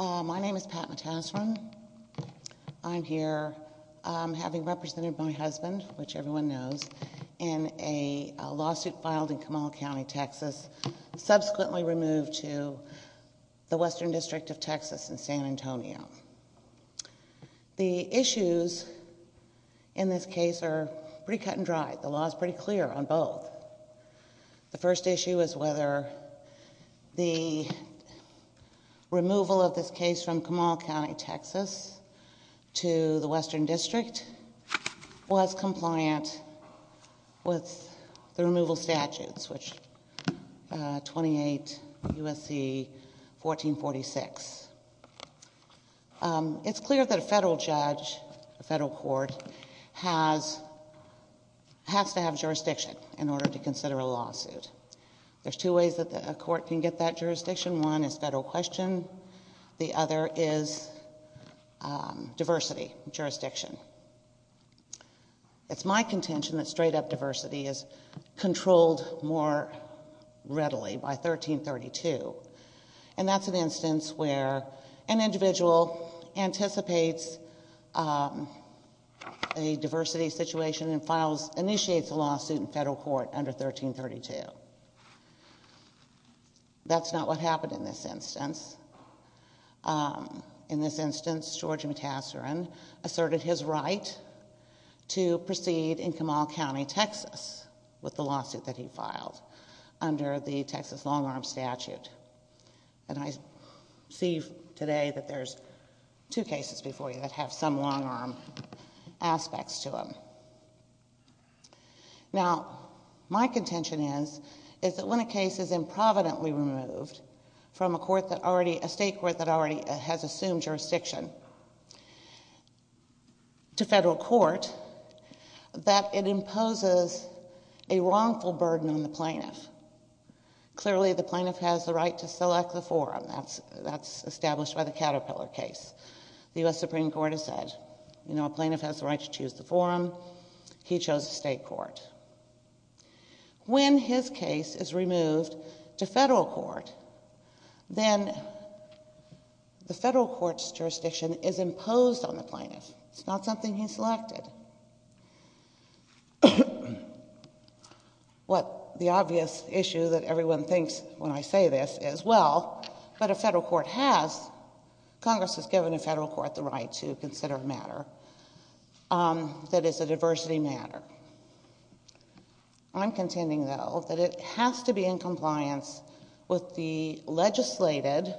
My name is Pat Matassarin. I'm here having represented my husband, which everyone knows, in a lawsuit filed in Kamala County, Texas, subsequently removed to the Western District of Texas in San Antonio. The issues in this case are pretty cut and dry. The law is pretty clear on both. The first issue is whether the removal of this case from Kamala County, Texas, to the Western District was compliant with the removal statutes, which 28 USC 1446. It's clear that a federal judge, a federal court, has to have jurisdiction in order to consider a lawsuit. There's two ways that a court can get that jurisdiction. One is federal question. The other is diversity jurisdiction. It's my contention that straight up diversity is controlled more readily by 1332. That's an instance where an individual anticipates a diversity situation and initiates a lawsuit in federal court under 1332. That's not what happened in this instance. In this instance, George Matassarin asserted his right to proceed in Kamala County, Texas with the lawsuit that he filed under the Texas long-arm statute. I see today that there's two cases before you that have some long-arm aspects to them. My contention is that when a case is improvidently removed from a state court that already has that it imposes a wrongful burden on the plaintiff. Clearly, the plaintiff has the right to select the forum. That's established by the Caterpillar case. The U.S. Supreme Court has said, you know, a plaintiff has the right to choose the forum. He chose a state court. When his case is removed to federal court, then the federal court's jurisdiction is imposed on the plaintiff. It's not something he selected. What the obvious issue that everyone thinks when I say this is, well, but a federal court has, Congress has given a federal court the right to consider a matter that is a diversity matter. I'm contending, though, that it has to be in compliance with the legislated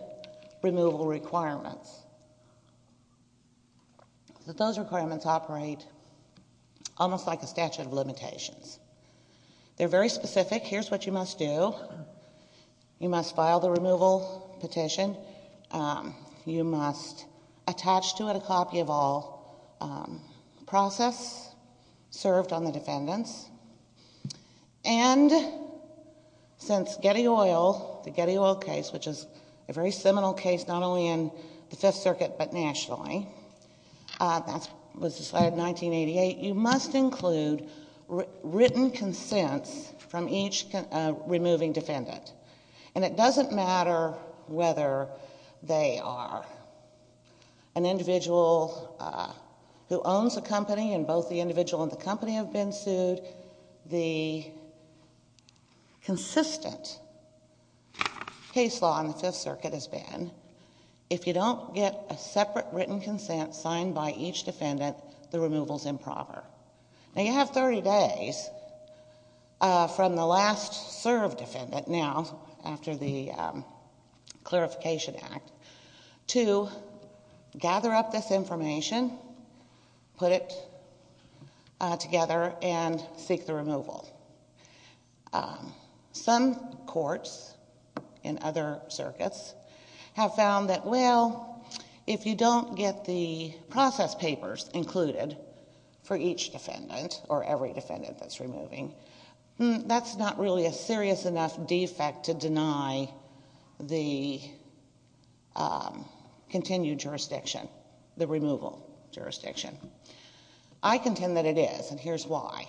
removal requirements. Those requirements operate almost like a statute of limitations. They're very specific. Here's what you must do. You must file the removal petition. You must attach to it a copy of all process served on the case. Since Getty Oil, the Getty Oil case, which is a very seminal case, not only in the Fifth Circuit, but nationally, that was decided in 1988, you must include written consents from each removing defendant. And it doesn't matter whether they are an individual who owns a company and both the individual and the company have been sued, the consistent case law in the Fifth Circuit has been, if you don't get a separate written consent signed by each defendant, the removal's improper. Now, you have 30 days from the last served defendant, now, after the Clarification Act, to gather up this information, put it together, and seek the removal. Some courts in other circuits have found that, well, if you don't get the process papers included for each defendant, or every defendant that's removing, that's not really a serious enough defect to deny the continued jurisdiction, the removal jurisdiction. I contend that it is, and here's why.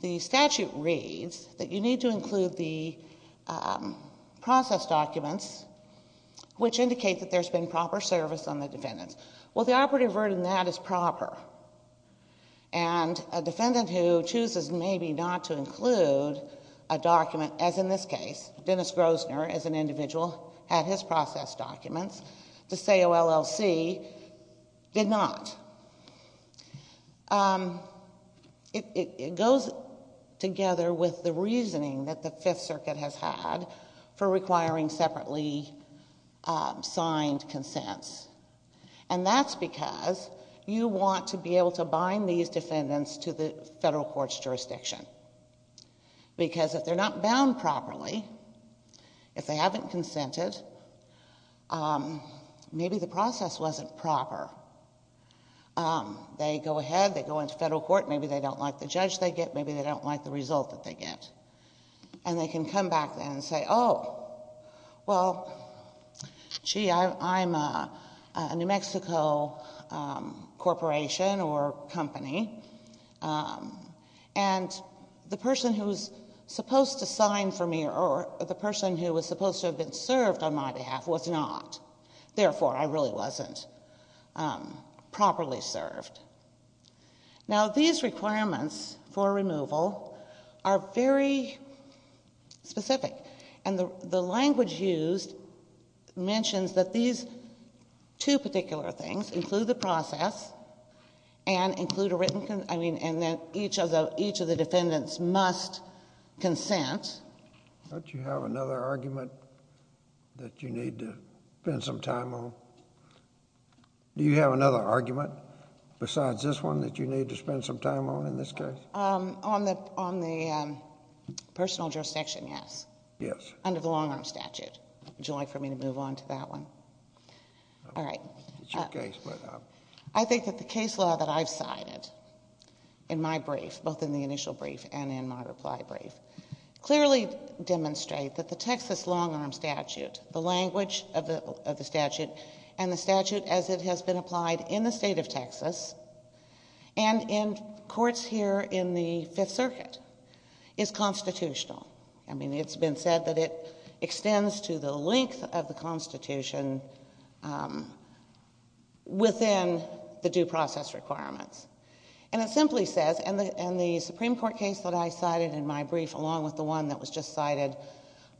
The statute reads that you need to include the process documents which indicate that there's been proper service on the defendants. Well, the operative word in that is proper. And a defendant who chooses maybe not to include a document, as in this case, Dennis Grosner, as an individual, had his process documents, the SALC did not. It goes together with the reasoning that the Fifth Circuit has had for you want to be able to bind these defendants to the federal court's jurisdiction. Because if they're not bound properly, if they haven't consented, maybe the process wasn't proper. They go ahead, they go into federal court, maybe they don't like the judge they get, maybe they don't like the result that they get. And they can come back then and say, oh, well, gee, I'm a New Mexico corporation or company, and the person who was supposed to sign for me, or the person who was supposed to have been served on my behalf was not, therefore I really wasn't properly served. Now, these requirements for removal are very specific. And the language used mentions that these two particular things include the process and include a written... I mean, and that each of the defendants must consent. Don't you have another argument that you need to spend some time on? Do you have another argument besides this one that you need to spend some time on in this case? On the personal jurisdiction, yes. Under the long-arm statute. Would you like for me to move on to that one? All right. I think that the case law that I've cited in my brief, both in the initial brief and in my reply brief, clearly demonstrate that the Texas long-arm statute, the language of the statute, and the statute as it has been applied in the state of Texas and in courts here in the Fifth Circuit, is constitutional. I mean, it's been said that it extends to the length of the Constitution within the due process requirements. And it simply says, and the Supreme Court case that I cited in my brief along with the one that was just cited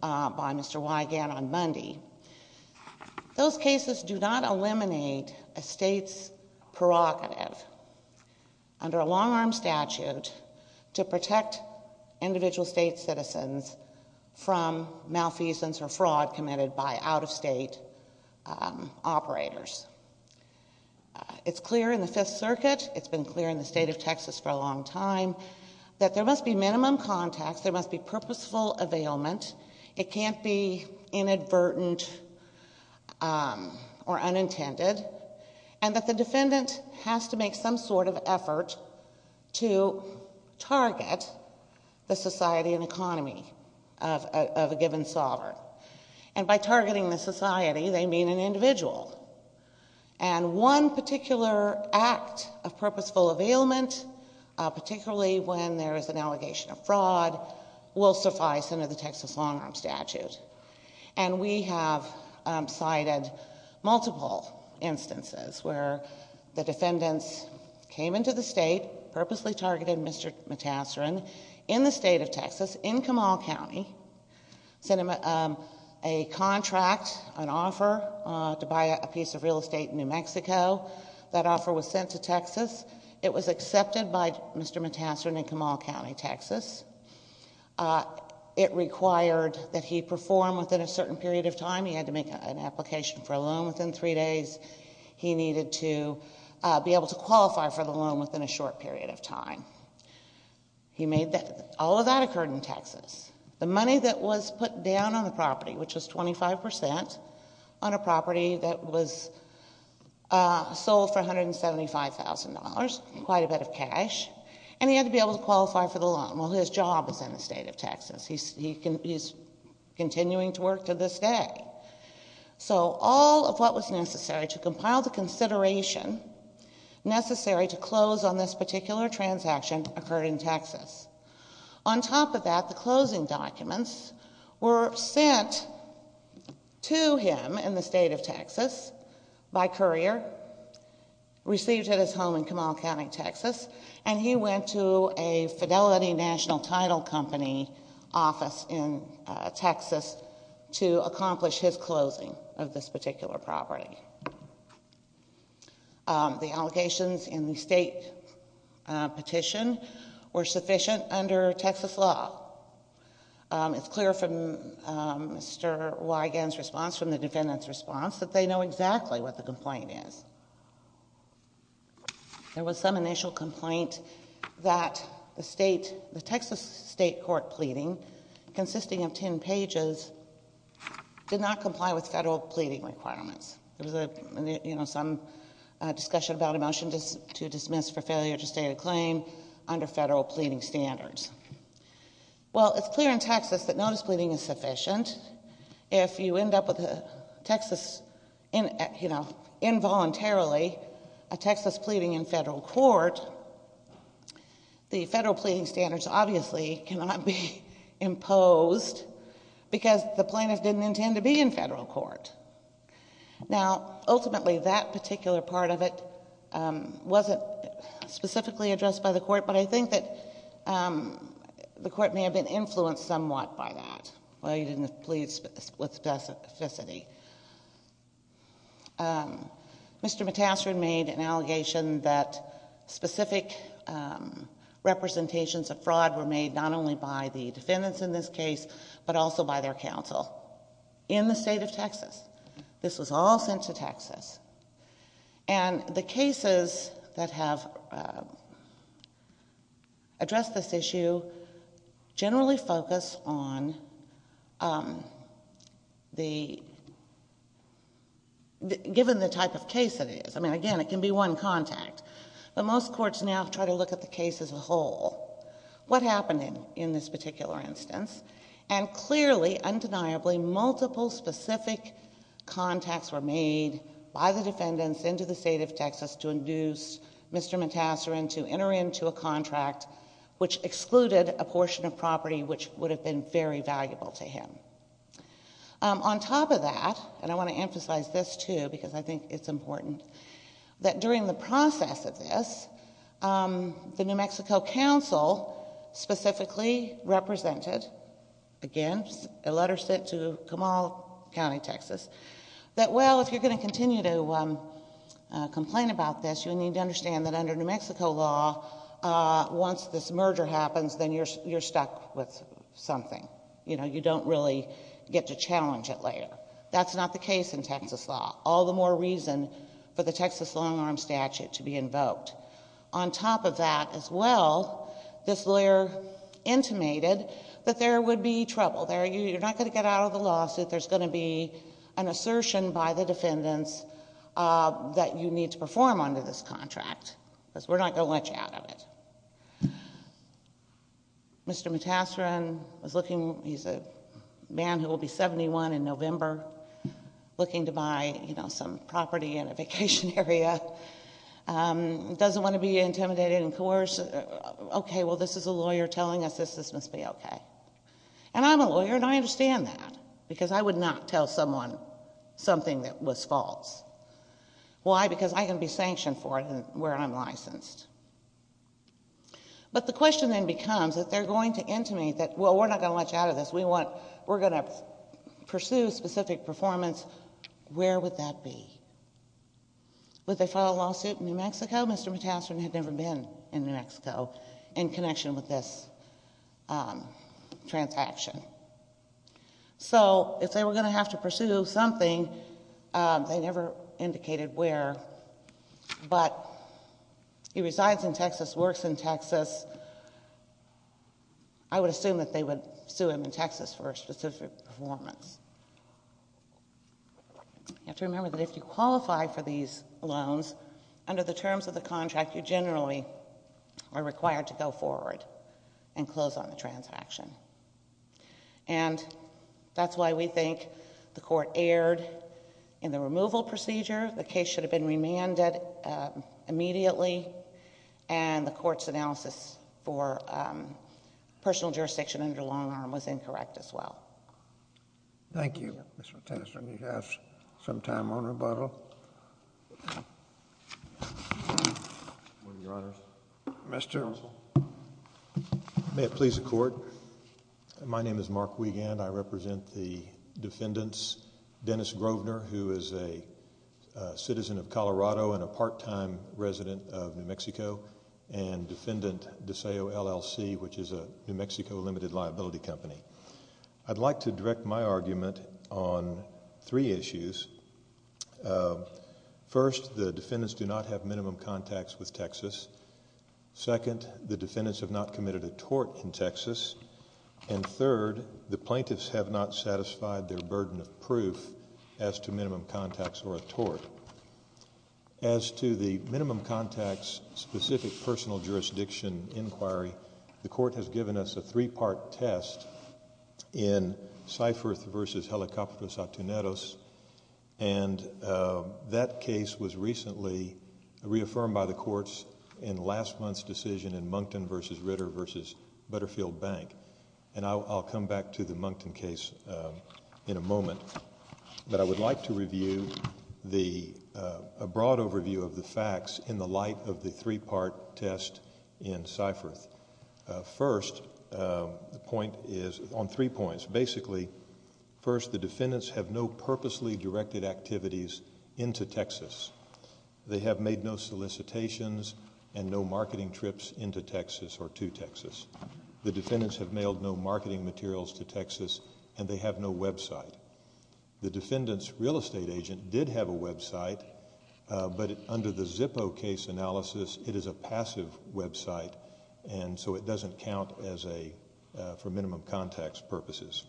by Mr. Wigand on Monday, those cases do not eliminate a state's prerogative under a long-arm statute to protect individual state citizens from malfeasance or fraud committed by out-of-state operators. It's clear in the Fifth Circuit, it's been clear in the state of Texas for a long time, that there must be minimum contacts, there must be purposeful availment, it can't be inadvertent or unintended, and that the defendant has to make some sort of effort to target the society and economy of a given sovereign. And by targeting the society, they mean an individual. And one particular act of purposeful availment, particularly when there is an allegation of fraud, will suffice under the Texas long-arm statute. And we have cited multiple instances where the defendants came into the state, purposely targeted Mr. Matassaran in the state of Texas, in Kamal County, sent him a contract, an offer to buy a piece of real estate in New Mexico. That offer was sent to Texas. It was accepted by Mr. Matassaran in Kamal County, Texas. It required that he perform within a certain period of time. He had to make an application for a loan within three days. He needed to be able to qualify for the loan within a short period of time. All of that occurred in Texas. The money that was put down on the property, which was 25%, on a property that was sold for $175,000, quite a bit of cash, and he had to be able to qualify for the loan. Well, his job is in the state of Texas. He is continuing to work to this day. So all of what was necessary to compile the consideration necessary to close on this particular transaction occurred in Texas. On top of that, the closing documents were sent to him in the state of Texas by courier, received at his home in Kamal County, Texas, and he went to a Fidelity National Title Company office in Texas to accomplish his closing of this particular property. The allegations in the state petition were sufficient under Texas law. It's clear from Mr. Wigand's response, from the defendant's response, that they know exactly what the complaint is. There was some initial complaint that the state, the Texas state court pleading, consisting of 10 pages, did not comply with federal pleading requirements. There was a, you know, some discussion about a motion to dismiss for failure to register a claim under federal pleading standards. Well, it's clear in Texas that notice pleading is sufficient. If you end up with a Texas, you know, involuntarily, a Texas pleading in federal court, the federal pleading standards obviously cannot be imposed because the plaintiff didn't intend to be in federal court. Now, ultimately, that particular part of it wasn't specifically addressed by the court, but I think that the court may have been influenced somewhat by that. Well, he didn't plead with specificity. Mr. Matassian made an allegation that specific representations of fraud were made not only by the defendants in this case, but also by their counsel in the state of Texas. This was all sent to Texas. And the cases that have addressed this issue generally focus on the, given the type of case it is. I mean, again, it can be one contact. But most courts now try to look at the case as a whole. What happened in this particular instance? And clearly, undeniably, multiple specific contacts were made by the defendants into the state of Texas to induce Mr. Matassian to enter into a contract which excluded a portion of property which would have been very valuable to him. On top of that, and I want to emphasize this, too, because I think it's important, that during the process of this, the New Mexico counsel specifically represented, again, a letter sent to Kamal County, Texas, that, well, if you're going to continue to complain about this, you need to understand that under New Mexico law, once this merger happens, then you're stuck with something. You know, you don't really get to challenge it later. That's not the case in Texas law. All the more reason for the there would be trouble. You're not going to get out of the lawsuit. There's going to be an assertion by the defendants that you need to perform under this contract, because we're not going to let you out of it. Mr. Matassian, he's a man who will be 71 in November, looking to buy some property in a vacation area. He doesn't want to be intimidated and coerced. Okay, well, this is a lawyer telling us this must be okay. I'm a lawyer, and I understand that, because I would not tell someone something that was false. Why? Because I can be sanctioned for it where I'm licensed. But the question then becomes, if they're going to intimidate that, well, we're not going to let you out of this. We're going to pursue specific performance, where would that be? Would they file a lawsuit in New Mexico? Mr. Matassian had never been in New Mexico in connection with this transaction. So, if they were going to have to pursue something, they never indicated where, but he resides in Texas, works in Texas. I would assume that they would sue him in Texas for a specific performance. You have to remember that if you qualify for these loans, under the terms of the contract, you generally are required to go forward and close on the transaction. And that's why we think the court erred in the removal procedure. The case should have been remanded immediately, and the court's analysis for personal jurisdiction under long arm was incorrect as well. Thank you, Mr. Matassian. You have some time on rebuttal. Your Honor. Mr. Russell. May it please the Court. My name is Mark Wiegand. I represent the defendants, Dennis Grovner, who is a citizen of Colorado and a part-time resident of New Mexico, and defendant DeSeo LLC, which is a New Mexico limited liability company. I'd like to direct my argument on three issues. First, the defendants do not have minimum contacts with Texas. Second, the defendants have not committed a tort in Texas. And third, the plaintiffs have not satisfied their burden of proof as to minimum contacts or a tort. As to the minimum contacts specific personal jurisdiction inquiry, the court has given us a three-part test in Seifert v. Helicopter Saturneros, and that case was recently reaffirmed by the courts in last month's decision in Moncton v. Ritter v. Butterfield Bank. And I'll come back to the Moncton case in a moment. But I would like to review a broad overview of the facts in the light of the three-part test in Seifert. First, the point is on three points. Basically, first, the defendants have no purposely directed activities into Texas. They have made no solicitations and no marketing trips into Texas or to Texas. The defendants have mailed no marketing materials to Texas, and they have no website. The defendant's real estate agent did have a website, but under the Zippo case analysis, it is a passive website, and so it doesn't count as a, for minimum contacts purposes.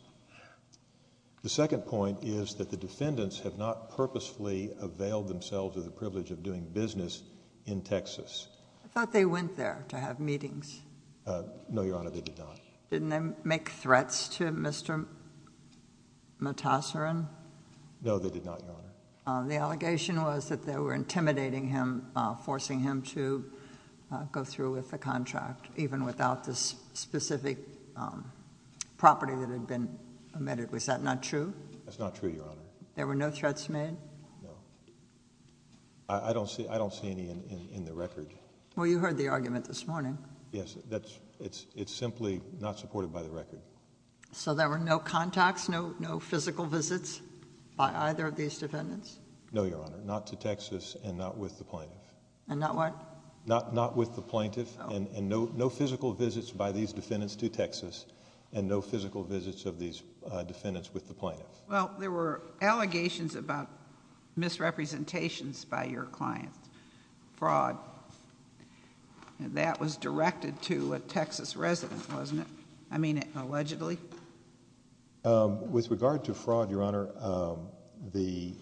The second point is that the defendants have not purposefully availed themselves of the privilege of doing business in Texas. I thought they went there to have meetings. No, Your Honor, they did not. Didn't they make threats to Mr. Matassaran? No, they did not, Your Honor. The allegation was that they were intimidating him, forcing him to go through with the contract, even without the specific property that had been omitted. Was that not true? That's not true, Your Honor. There were no threats made? No. I don't see any in the record. Well, you heard the argument this morning. Yes, it's simply not supported by the record. So there were no contacts, no physical visits by either of these defendants? No, Your Honor, not to Texas, and not with the plaintiff. And not what? Not with the plaintiff, and no physical visits by these defendants to Texas, and no physical visits of these defendants with the plaintiff. Well, there were allegations about misrepresentations by your client, fraud, and that was directed to a Texas resident, wasn't it? I mean, allegedly? With regard to fraud, Your Honor, the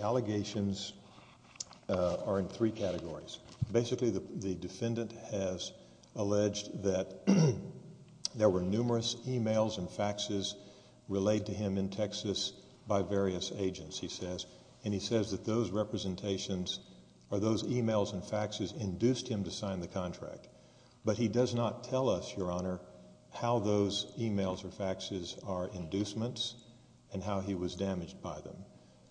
allegations are in three categories. Basically the defendant has alleged that there were numerous emails and faxes relayed to him in Texas by various agents, he says, and he says that those representations or those emails and faxes induced him to sign the contract. But he does not tell us, Your Honor, how those emails or faxes are inducements and how he was damaged by them.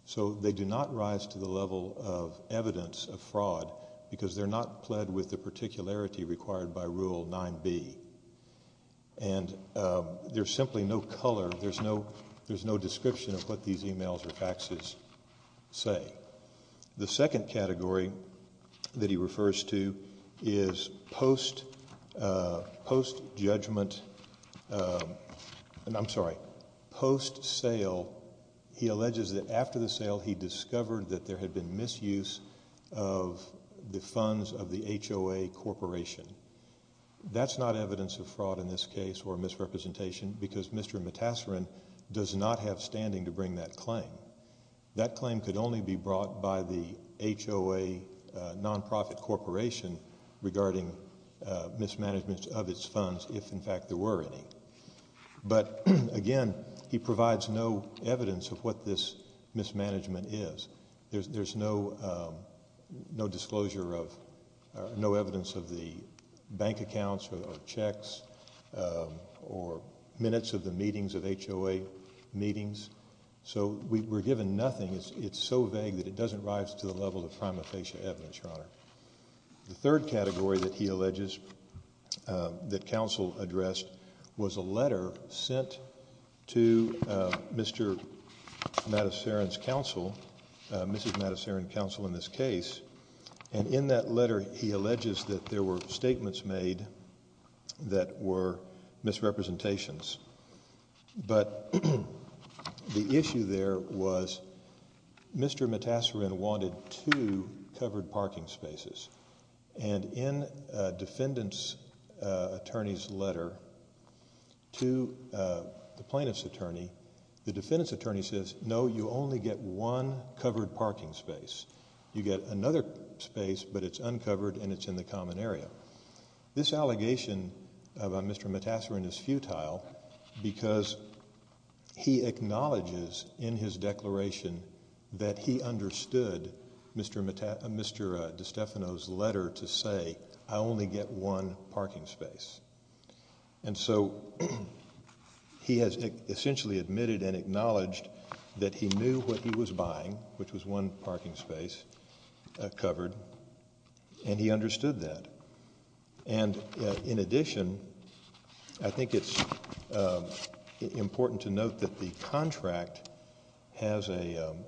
So they do not rise to the level of evidence of fraud because they're not pled with the particularity required by Rule 9b. And there's simply no color, there's no description of what these emails or faxes say. The second category that he refers to is post-judgment, I'm sorry, post-sale. He alleges that after the sale he discovered that there had been misuse of the funds of the HOA Corporation. That's not evidence of fraud in this case or misrepresentation because Mr. Matassarin does not have standing to bring that claim. That claim could only be brought by the HOA nonprofit corporation regarding mismanagement of its funds if in fact there were any. But again, he provides no evidence of what this mismanagement is. There's no disclosure of, no evidence of the bank accounts or checks or minutes of the meetings of HOA meetings. So we're given nothing. It's so vague that it doesn't rise to the level of prima facie evidence, Your Honor. The third category that he alleges that counsel addressed was a letter sent to Mr. Matassarin's counsel, Mrs. Matassarin's counsel in this case, and in that letter he alleges that there were statements made that were misrepresentations. But the issue there was Mr. Matassarin wanted two covered parking spaces. And in a defendant's attorney's letter to the plaintiff's attorney, the defendant's attorney says, no, you only get one covered parking space. You get another space, but it's uncovered and it's in the common area. This allegation of Mr. Matassarin is futile because he acknowledges in his declaration that he understood Mr. DeStefano's letter to say, I only get one parking space. And so he has essentially admitted and acknowledged that he knew what he was buying, which was one parking space covered, and he understood that. And in addition, I think it's important to note that the contract has a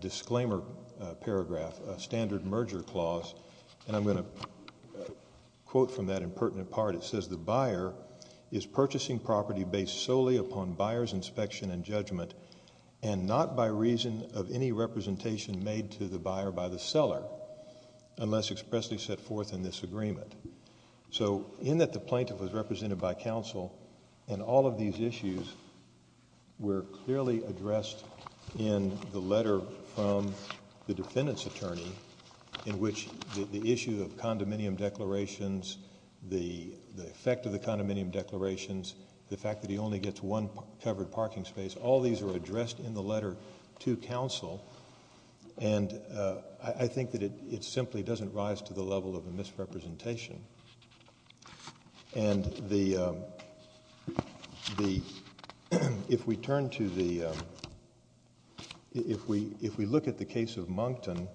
disclaimer paragraph, a standard merger clause, and I'm going to quote from that impertinent part. It says the buyer is purchasing property based solely upon buyer's inspection and judgment and not by reason of any representation made to the buyer by the seller unless expressly set forth in this agreement. So in that the plaintiff was represented by counsel and all of these issues were clearly addressed in the letter from the defendant's attorney in which the issue of condominium declarations, the effect of the condominium declarations, the fact that he only gets one covered parking space, all these are addressed in the letter to counsel. And I think that it simply doesn't rise to the level of a misrepresentation. If we look at the case of Moncton,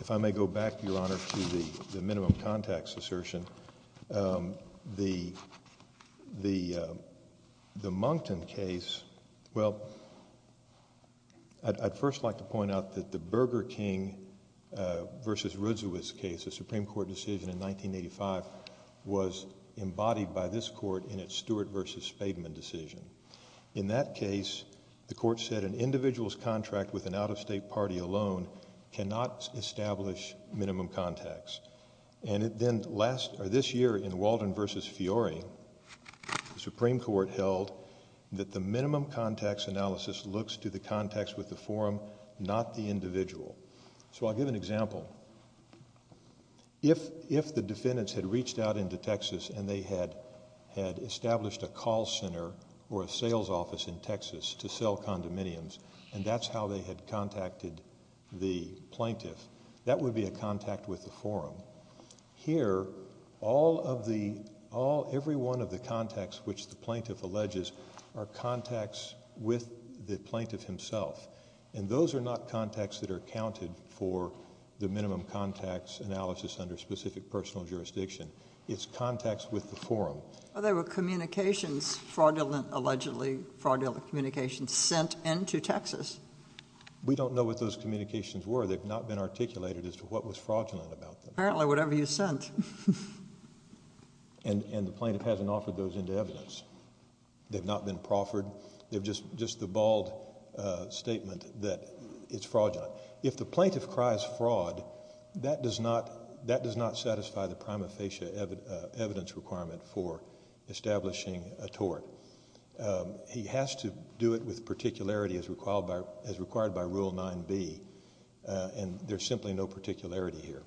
if I may go back, Your Honor, to the minimum contacts assertion, the Moncton case, well, I'd first like to point out that the Burger King versus Roodsewitz case, a Supreme Court decision in 1985, was embodied by this court in its Stewart versus Spaveman decision. In that case, the court said an individual's contract with an out-of-state party alone cannot establish minimum contacts. And then this year in Walden versus Fiore, the Supreme Court held that the minimum contacts analysis looks to the contacts with the forum, not the individual. So I'll give an example. If the defendants had reached out into Texas and they had established a call center or cell condominiums, and that's how they had contacted the plaintiff, that would be a contact with the forum. Here, all of the, every one of the contacts which the plaintiff alleges are contacts with the plaintiff himself. And those are not contacts that are accounted for the minimum contacts analysis under specific personal jurisdiction. It's contacts with the forum. Well, there were communications, fraudulent allegedly, fraudulent communications sent into Texas. We don't know what those communications were. They've not been articulated as to what was fraudulent about them. Apparently, whatever you sent. And the plaintiff hasn't offered those into evidence. They've not been proffered. They've just, just the bald statement that it's fraudulent. If the plaintiff cries fraud, that does not, that does not satisfy the prima facie evidence requirement for establishing a tort. He has to do it with particularity as required by, as required by Rule 9B, and there's simply no particularity here.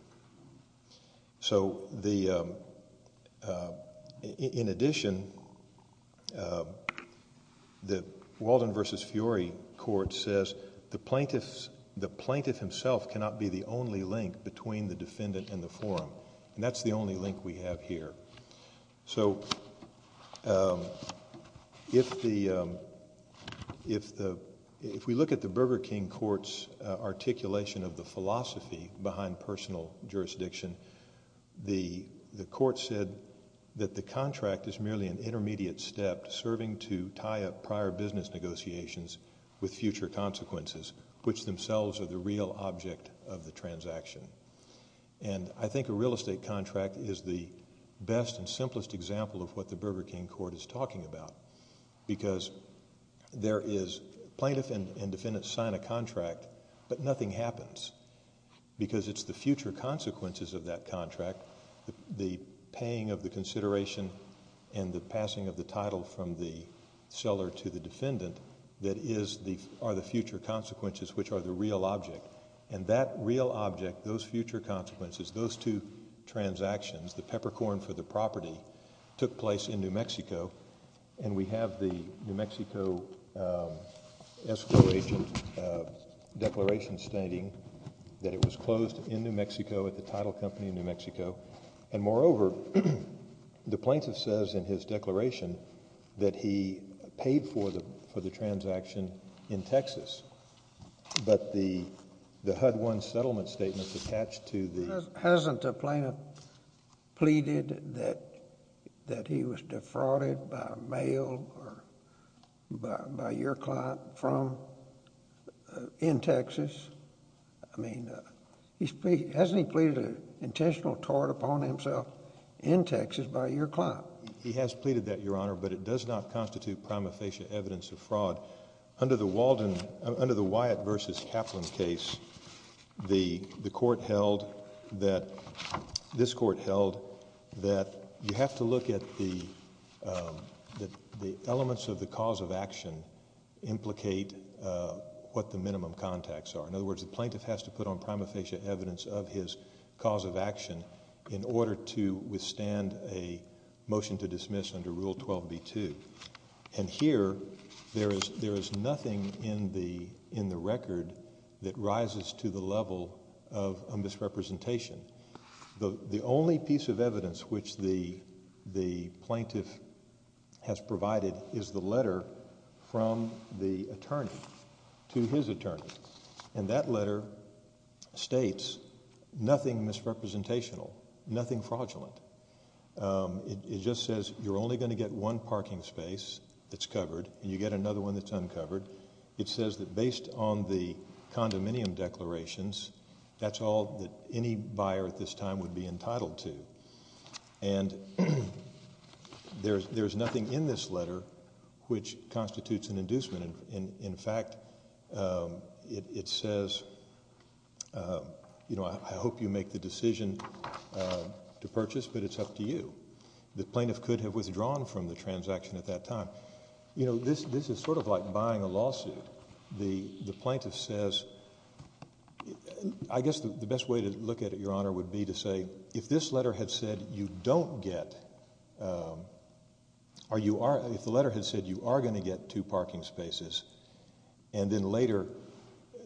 So the, in addition, the Walden v. Fiori Court says the plaintiff's, the plaintiff himself cannot be the only link between the defendant and the forum, and that's the only link we have here. So if the, if the, if we look at the Burger King Court's articulation of the philosophy behind personal jurisdiction, the, the court said that the contract is merely an intermediate step serving to tie up prior business negotiations with future consequences, which themselves are the real object of the transaction. And I think a real estate contract is the best and simplest example of what the Burger King Court is talking about, because there is, plaintiff and, and defendant sign a contract, but nothing happens, because it's the future consequences of that contract, the paying of the consideration and the passing of the title from the seller to the defendant that is the, are the future consequences, which are the real object. And that real object, those future consequences, those two transactions, the peppercorn for the property, took place in New Mexico, and we have the New Mexico escrow agent declaration stating that it was closed in New Mexico at the title company in New Mexico. And moreover, the plaintiff says in his declaration that he paid for the, for the transaction in Texas, but the, the HUD-1 settlement statement attached to the... Hasn't the plaintiff pleaded that, that he was defrauded by mail or by, by your client from, in Texas? I mean, he's pleaded, hasn't he pleaded an intentional tort upon himself in Texas by your client? He has pleaded that, Your Honor, but it does not constitute prima facie evidence of fraud. Under the Walden, under the Wyatt v. Kaplan case, the, the court held that, this court held that you have to look at the, the elements of the cause of action implicate what the minimum contacts are. In other words, the plaintiff has to put on prima facie evidence of his cause of action in order to withstand a motion to dismiss under Rule 12b-2. And here, there is, there is nothing in the, in the record that rises to the level of misrepresentation. The only piece of evidence which the, the plaintiff has provided is the letter from the attorney to his attorney. And that letter states nothing misrepresentational, nothing fraudulent. It, it just says you're only going to get one parking space that's covered, and you get another one that's uncovered. It says that based on the condominium declarations, that's all that any buyer at this time would be entitled to. And there's, there's nothing in this letter which constitutes an inducement. In, in fact, it, it says, you know, I hope you make the decision to purchase because it's up to you. The plaintiff could have withdrawn from the transaction at that time. You know, this, this is sort of like buying a lawsuit. The, the plaintiff says, I guess the, the best way to look at it, Your Honor, would be to say, if this letter had said you don't get, or you are, if the letter had said you are going to get two parking spaces, and then later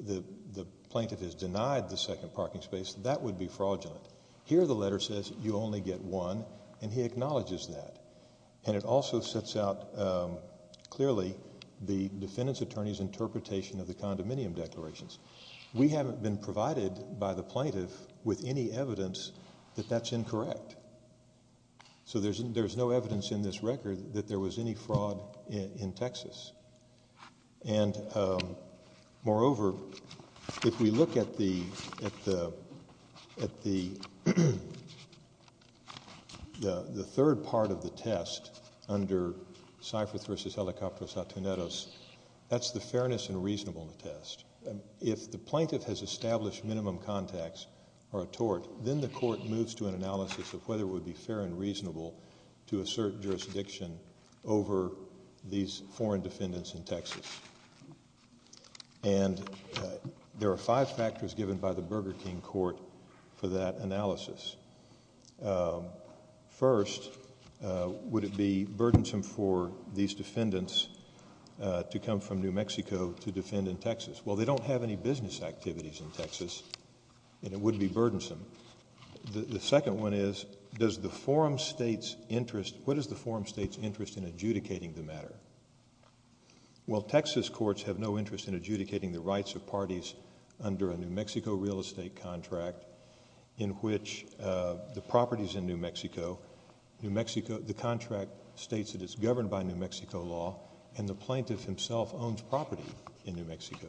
the, the plaintiff has denied the second parking space, that would be fraudulent. Here the letter says you only get one, and he acknowledges that. And it also sets out clearly the defendant's attorney's interpretation of the condominium declarations. We haven't been provided by the plaintiff with any evidence that that's incorrect. So there's, there's no evidence in this record that there was any fraud in, in Texas. And, moreover, if we look at the, at the, at the, the, the third part of the test under Seifrith v. Helicopteros-Artuneros, that's the fairness and reasonableness test. If the plaintiff has established minimum contacts or a tort, then the court moves to an analysis of whether it would be fair and reasonable to assert jurisdiction over these foreign defendants in Texas. And there are five factors given by the Burger King Court for that analysis. First, would it be burdensome for these defendants to come from New Mexico to defend in Texas? Well, they don't have any business activities in Texas, and it would be burdensome. The, the second one is, does the forum state's interest, what is the forum state's interest in adjudicating the matter? Well, Texas courts have no interest in adjudicating the rights of parties under a New Mexico real estate contract in which the properties in New Mexico, New Mexico, the contract states that it's governed by New Mexico law and the plaintiff himself owns property in New Mexico.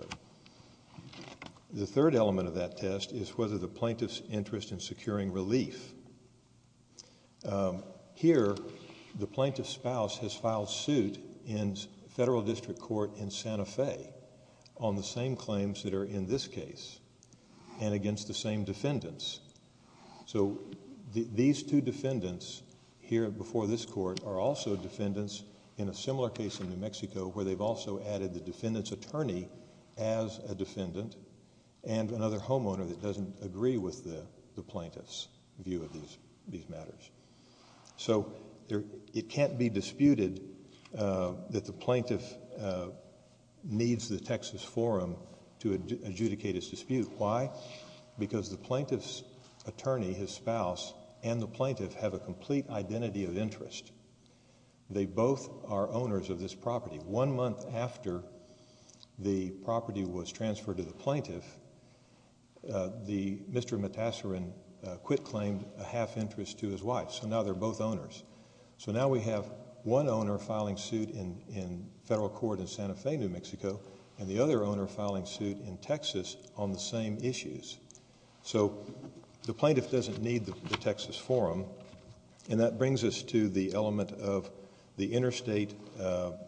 The third element of that test is whether the plaintiff's interest in securing relief. Here the plaintiff's spouse has filed suit in federal district court in Santa Fe on the same claims that are in this case and against the same defendants. So these two defendants here before this court are also defendants in a similar case in New Mexico as a defendant and another homeowner that doesn't agree with the, the plaintiff's view of these, these matters. So there, it can't be disputed that the plaintiff needs the Texas forum to adjudicate his dispute. Why? Because the plaintiff's attorney, his spouse, and the plaintiff have a complete identity of interest. They both are owners of this property. One month after the property was transferred to the plaintiff, the, Mr. Matasorin quit claimed a half interest to his wife, so now they're both owners. So now we have one owner filing suit in, in federal court in Santa Fe, New Mexico, and the other owner filing suit in Texas on the same issues. So the plaintiff doesn't need the, the Texas forum and that brings us to the element of the interstate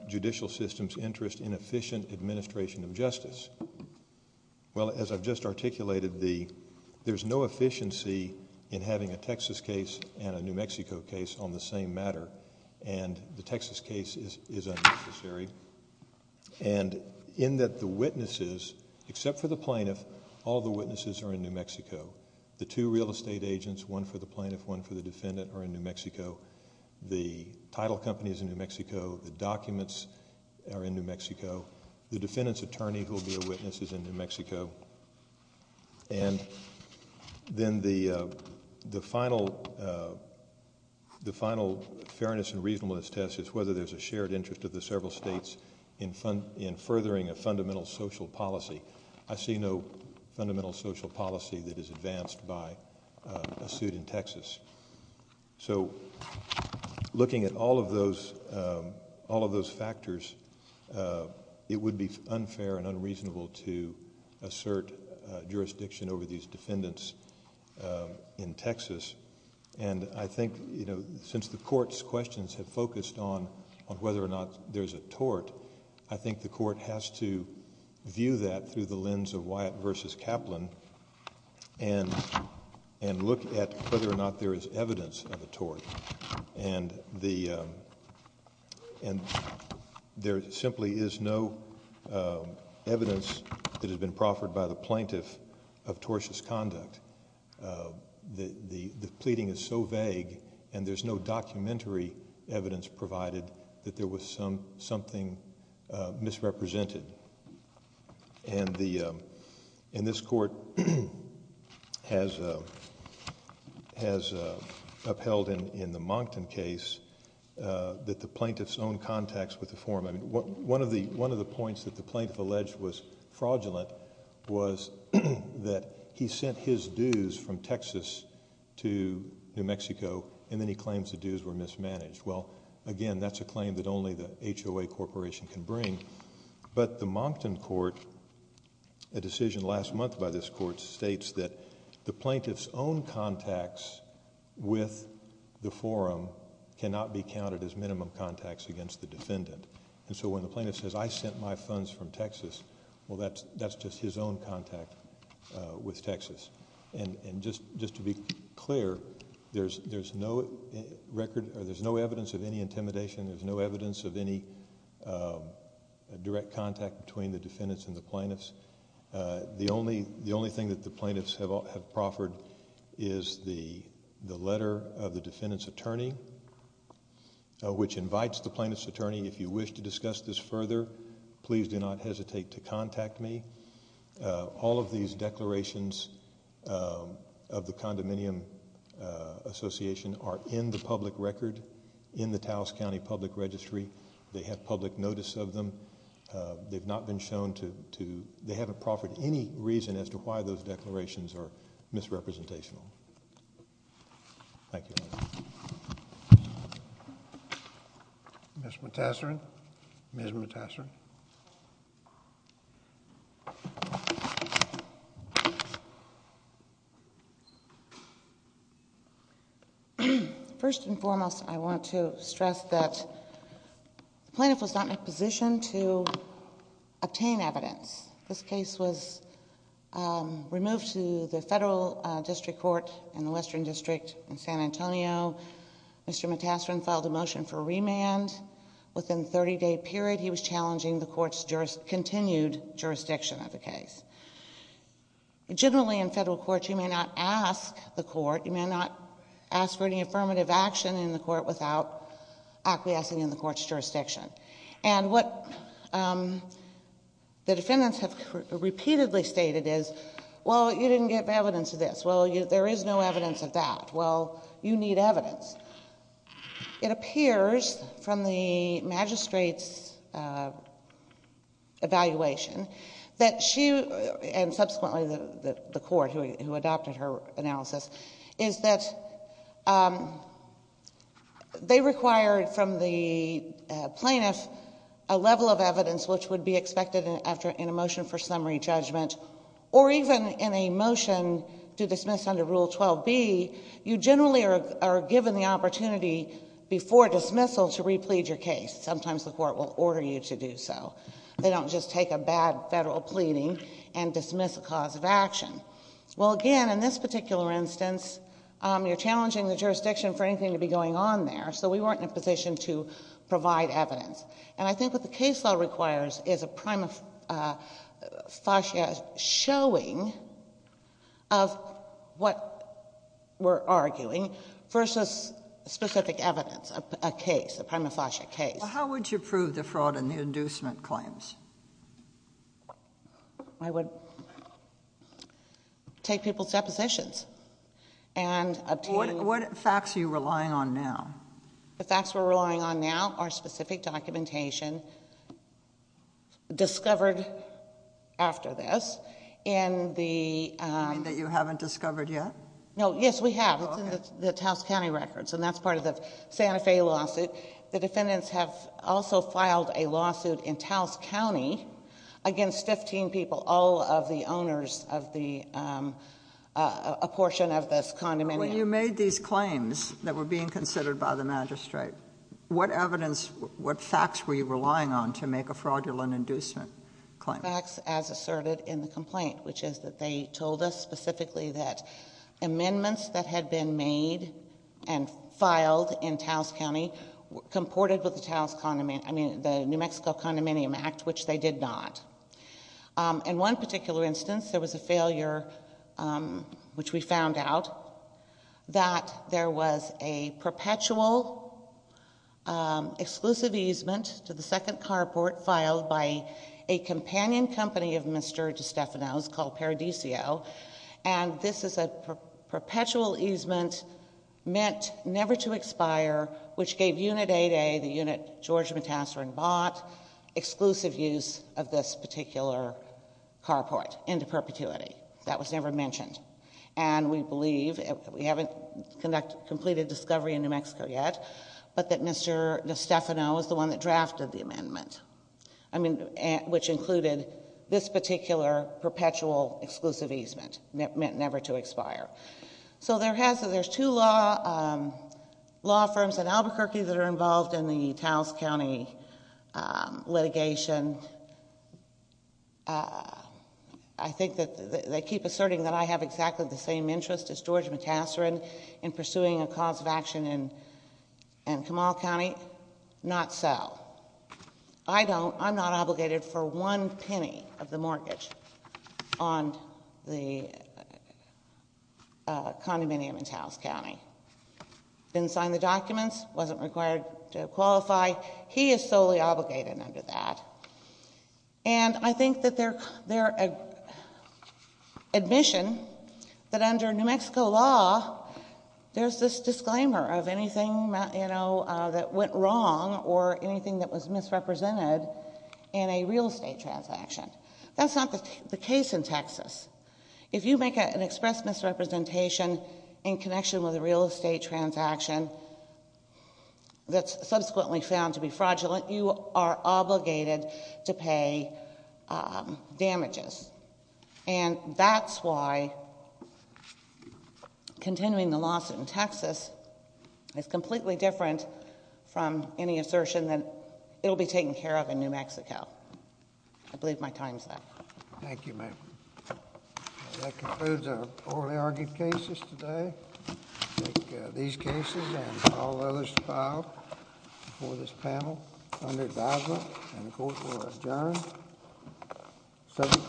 judicial system's interest in efficient administration of justice. Well, as I've just articulated, the, there's no efficiency in having a Texas case and a New Mexico case on the same matter and the Texas case is, is unnecessary. And in that the witnesses, except for the plaintiff, all the witnesses are in New Mexico. The two real estate agents, one for the plaintiff, one for the defendant, are in New Mexico. The title company is in New Mexico. The documents are in New Mexico. The defendant's attorney who will be a witness is in New Mexico. And then the, the final, the final fairness and reasonableness test is whether there's a shared interest of the several states in, in furthering a fundamental social policy. I see no fundamental social policy that is advanced by a suit in Texas. So looking at all of those, all of those factors, it would be unfair and unreasonable to assert jurisdiction over these defendants in Texas. And I think, you know, since the court's questions have focused on, on whether or not there's a tort, I think the court has to view that through the lens of Wyatt versus Kaplan and, and look at whether or not there is evidence of a tort. And the, and there simply is no evidence that has been proffered by the plaintiff of tortious conduct. The, the, the pleading is so vague and there's no documentary evidence provided that there was some, something misrepresented. And the, and this court has, has upheld in, in the Moncton case that the plaintiff's own contacts with the former... I mean, one of the, one of the points that the plaintiff made was that he sent the dues from Texas to New Mexico and then he claims the dues were mismanaged. Well, again, that's a claim that only the HOA Corporation can bring. But the Moncton court, a decision last month by this court states that the plaintiff's own contacts with the forum cannot be counted as minimum contacts against the defendant. And so when the plaintiff says, I sent my funds from Texas, well, that's, that's just his own contact with Texas. And, and just, just to be clear, there's, there's no record, or there's no evidence of any intimidation. There's no evidence of any direct contact between the defendants and the plaintiffs. The only, the only thing that the plaintiffs have, have proffered is the, the letter of the defendant's attorney, which invites the plaintiff's attorney, if you wish to discuss this further, please do not hesitate to contact me. All of these declarations of the Condominium Association are in the public record, in the Taos County Public Registry. They have public notice of them. They've not been shown to, to, they haven't proffered any reason as to why those declarations are misrepresentational. Thank you. Ms. Matassaran, Ms. Matassaran. First and foremost, I want to stress that the plaintiff was not in a position to obtain evidence. This, this case was removed to the Federal District Court in the Western District in San Antonio. Mr. Matassaran filed a motion for remand. Within a 30-day period, he was challenging the court's jurist, continued jurisdiction of the case. Generally in federal court, you may not ask the court, you may not ask for any affirmative action in the court without acquiescing in the court's jurisdiction. And what the defendants have repeatedly stated is, well, you didn't get evidence of this. Well, there is no evidence of that. Well, you need evidence. It appears from the magistrate's evaluation that she, and subsequently the court who adopted her analysis, is that they required from the plaintiff a level of evidence which would be expected after, in a motion for summary judgment, or even in a motion to dismiss under Rule 12b, you generally are given the opportunity before dismissal to replead your case. Sometimes the court will order you to do so. They don't just take a bad federal pleading and dismiss a cause of action. Well, again, in this particular instance, you're challenging the jurisdiction for anything to be going on there, so we weren't in a position to provide evidence. And I think what the case law requires is a prima facie showing of what we're arguing versus specific evidence, a case, a prima facie case. How would you prove the fraud in the inducement claims? I would take people's depositions and obtain... What facts are you relying on now? The facts we're relying on now are specific documentation discovered after this in the... You mean that you haven't discovered yet? No, yes, we have. It's in the Taos County records, and that's part of the Santa Fe lawsuit. The defendants have also filed a lawsuit in Taos County against 15 people, all of the owners of a portion of this condominium. When you made these claims that were being considered by the magistrate, what evidence, what facts were you relying on to make a fraudulent inducement claim? Facts as asserted in the complaint, which is that they told us specifically that they were comported with the New Mexico Condominium Act, which they did not. In one particular instance, there was a failure, which we found out, that there was a perpetual exclusive easement to the second carport filed by a companion company of Mr. DeStefano's called Paradisio. And this is a perpetual easement meant never to expire, which gave Unit 8A, the unit George Matassorin bought, exclusive use of this particular carport into perpetuity. That was never mentioned. And we believe, we haven't completed discovery in New Mexico yet, but that Mr. DeStefano is the one that drafted the amendment. I mean, which included this particular perpetual exclusive easement, meant never to expire. So there's two law firms in Albuquerque that are involved in the Towles County litigation. I think that they keep asserting that I have exactly the same interest as George Matassorin in pursuing a cause of action in Kamal County. Not so, I'm not obligated for one penny of the mortgage on the condominium in Towles County. Didn't sign the documents, wasn't required to qualify. He is solely obligated under that. And I think that their admission that under New Mexico law, there's this disclaimer of anything that went wrong or anything that was misrepresented in a real estate transaction. That's not the case in Texas. If you make an express misrepresentation in connection with a real estate transaction that's subsequently found to be fraudulent, you are obligated to pay damages. It's completely different from any assertion that it'll be taken care of in New Mexico. I believe my time's up. Thank you, ma'am. That concludes our orally argued cases today. I think these cases and all others filed before this panel, under advisement, and the court will adjourn, subject to.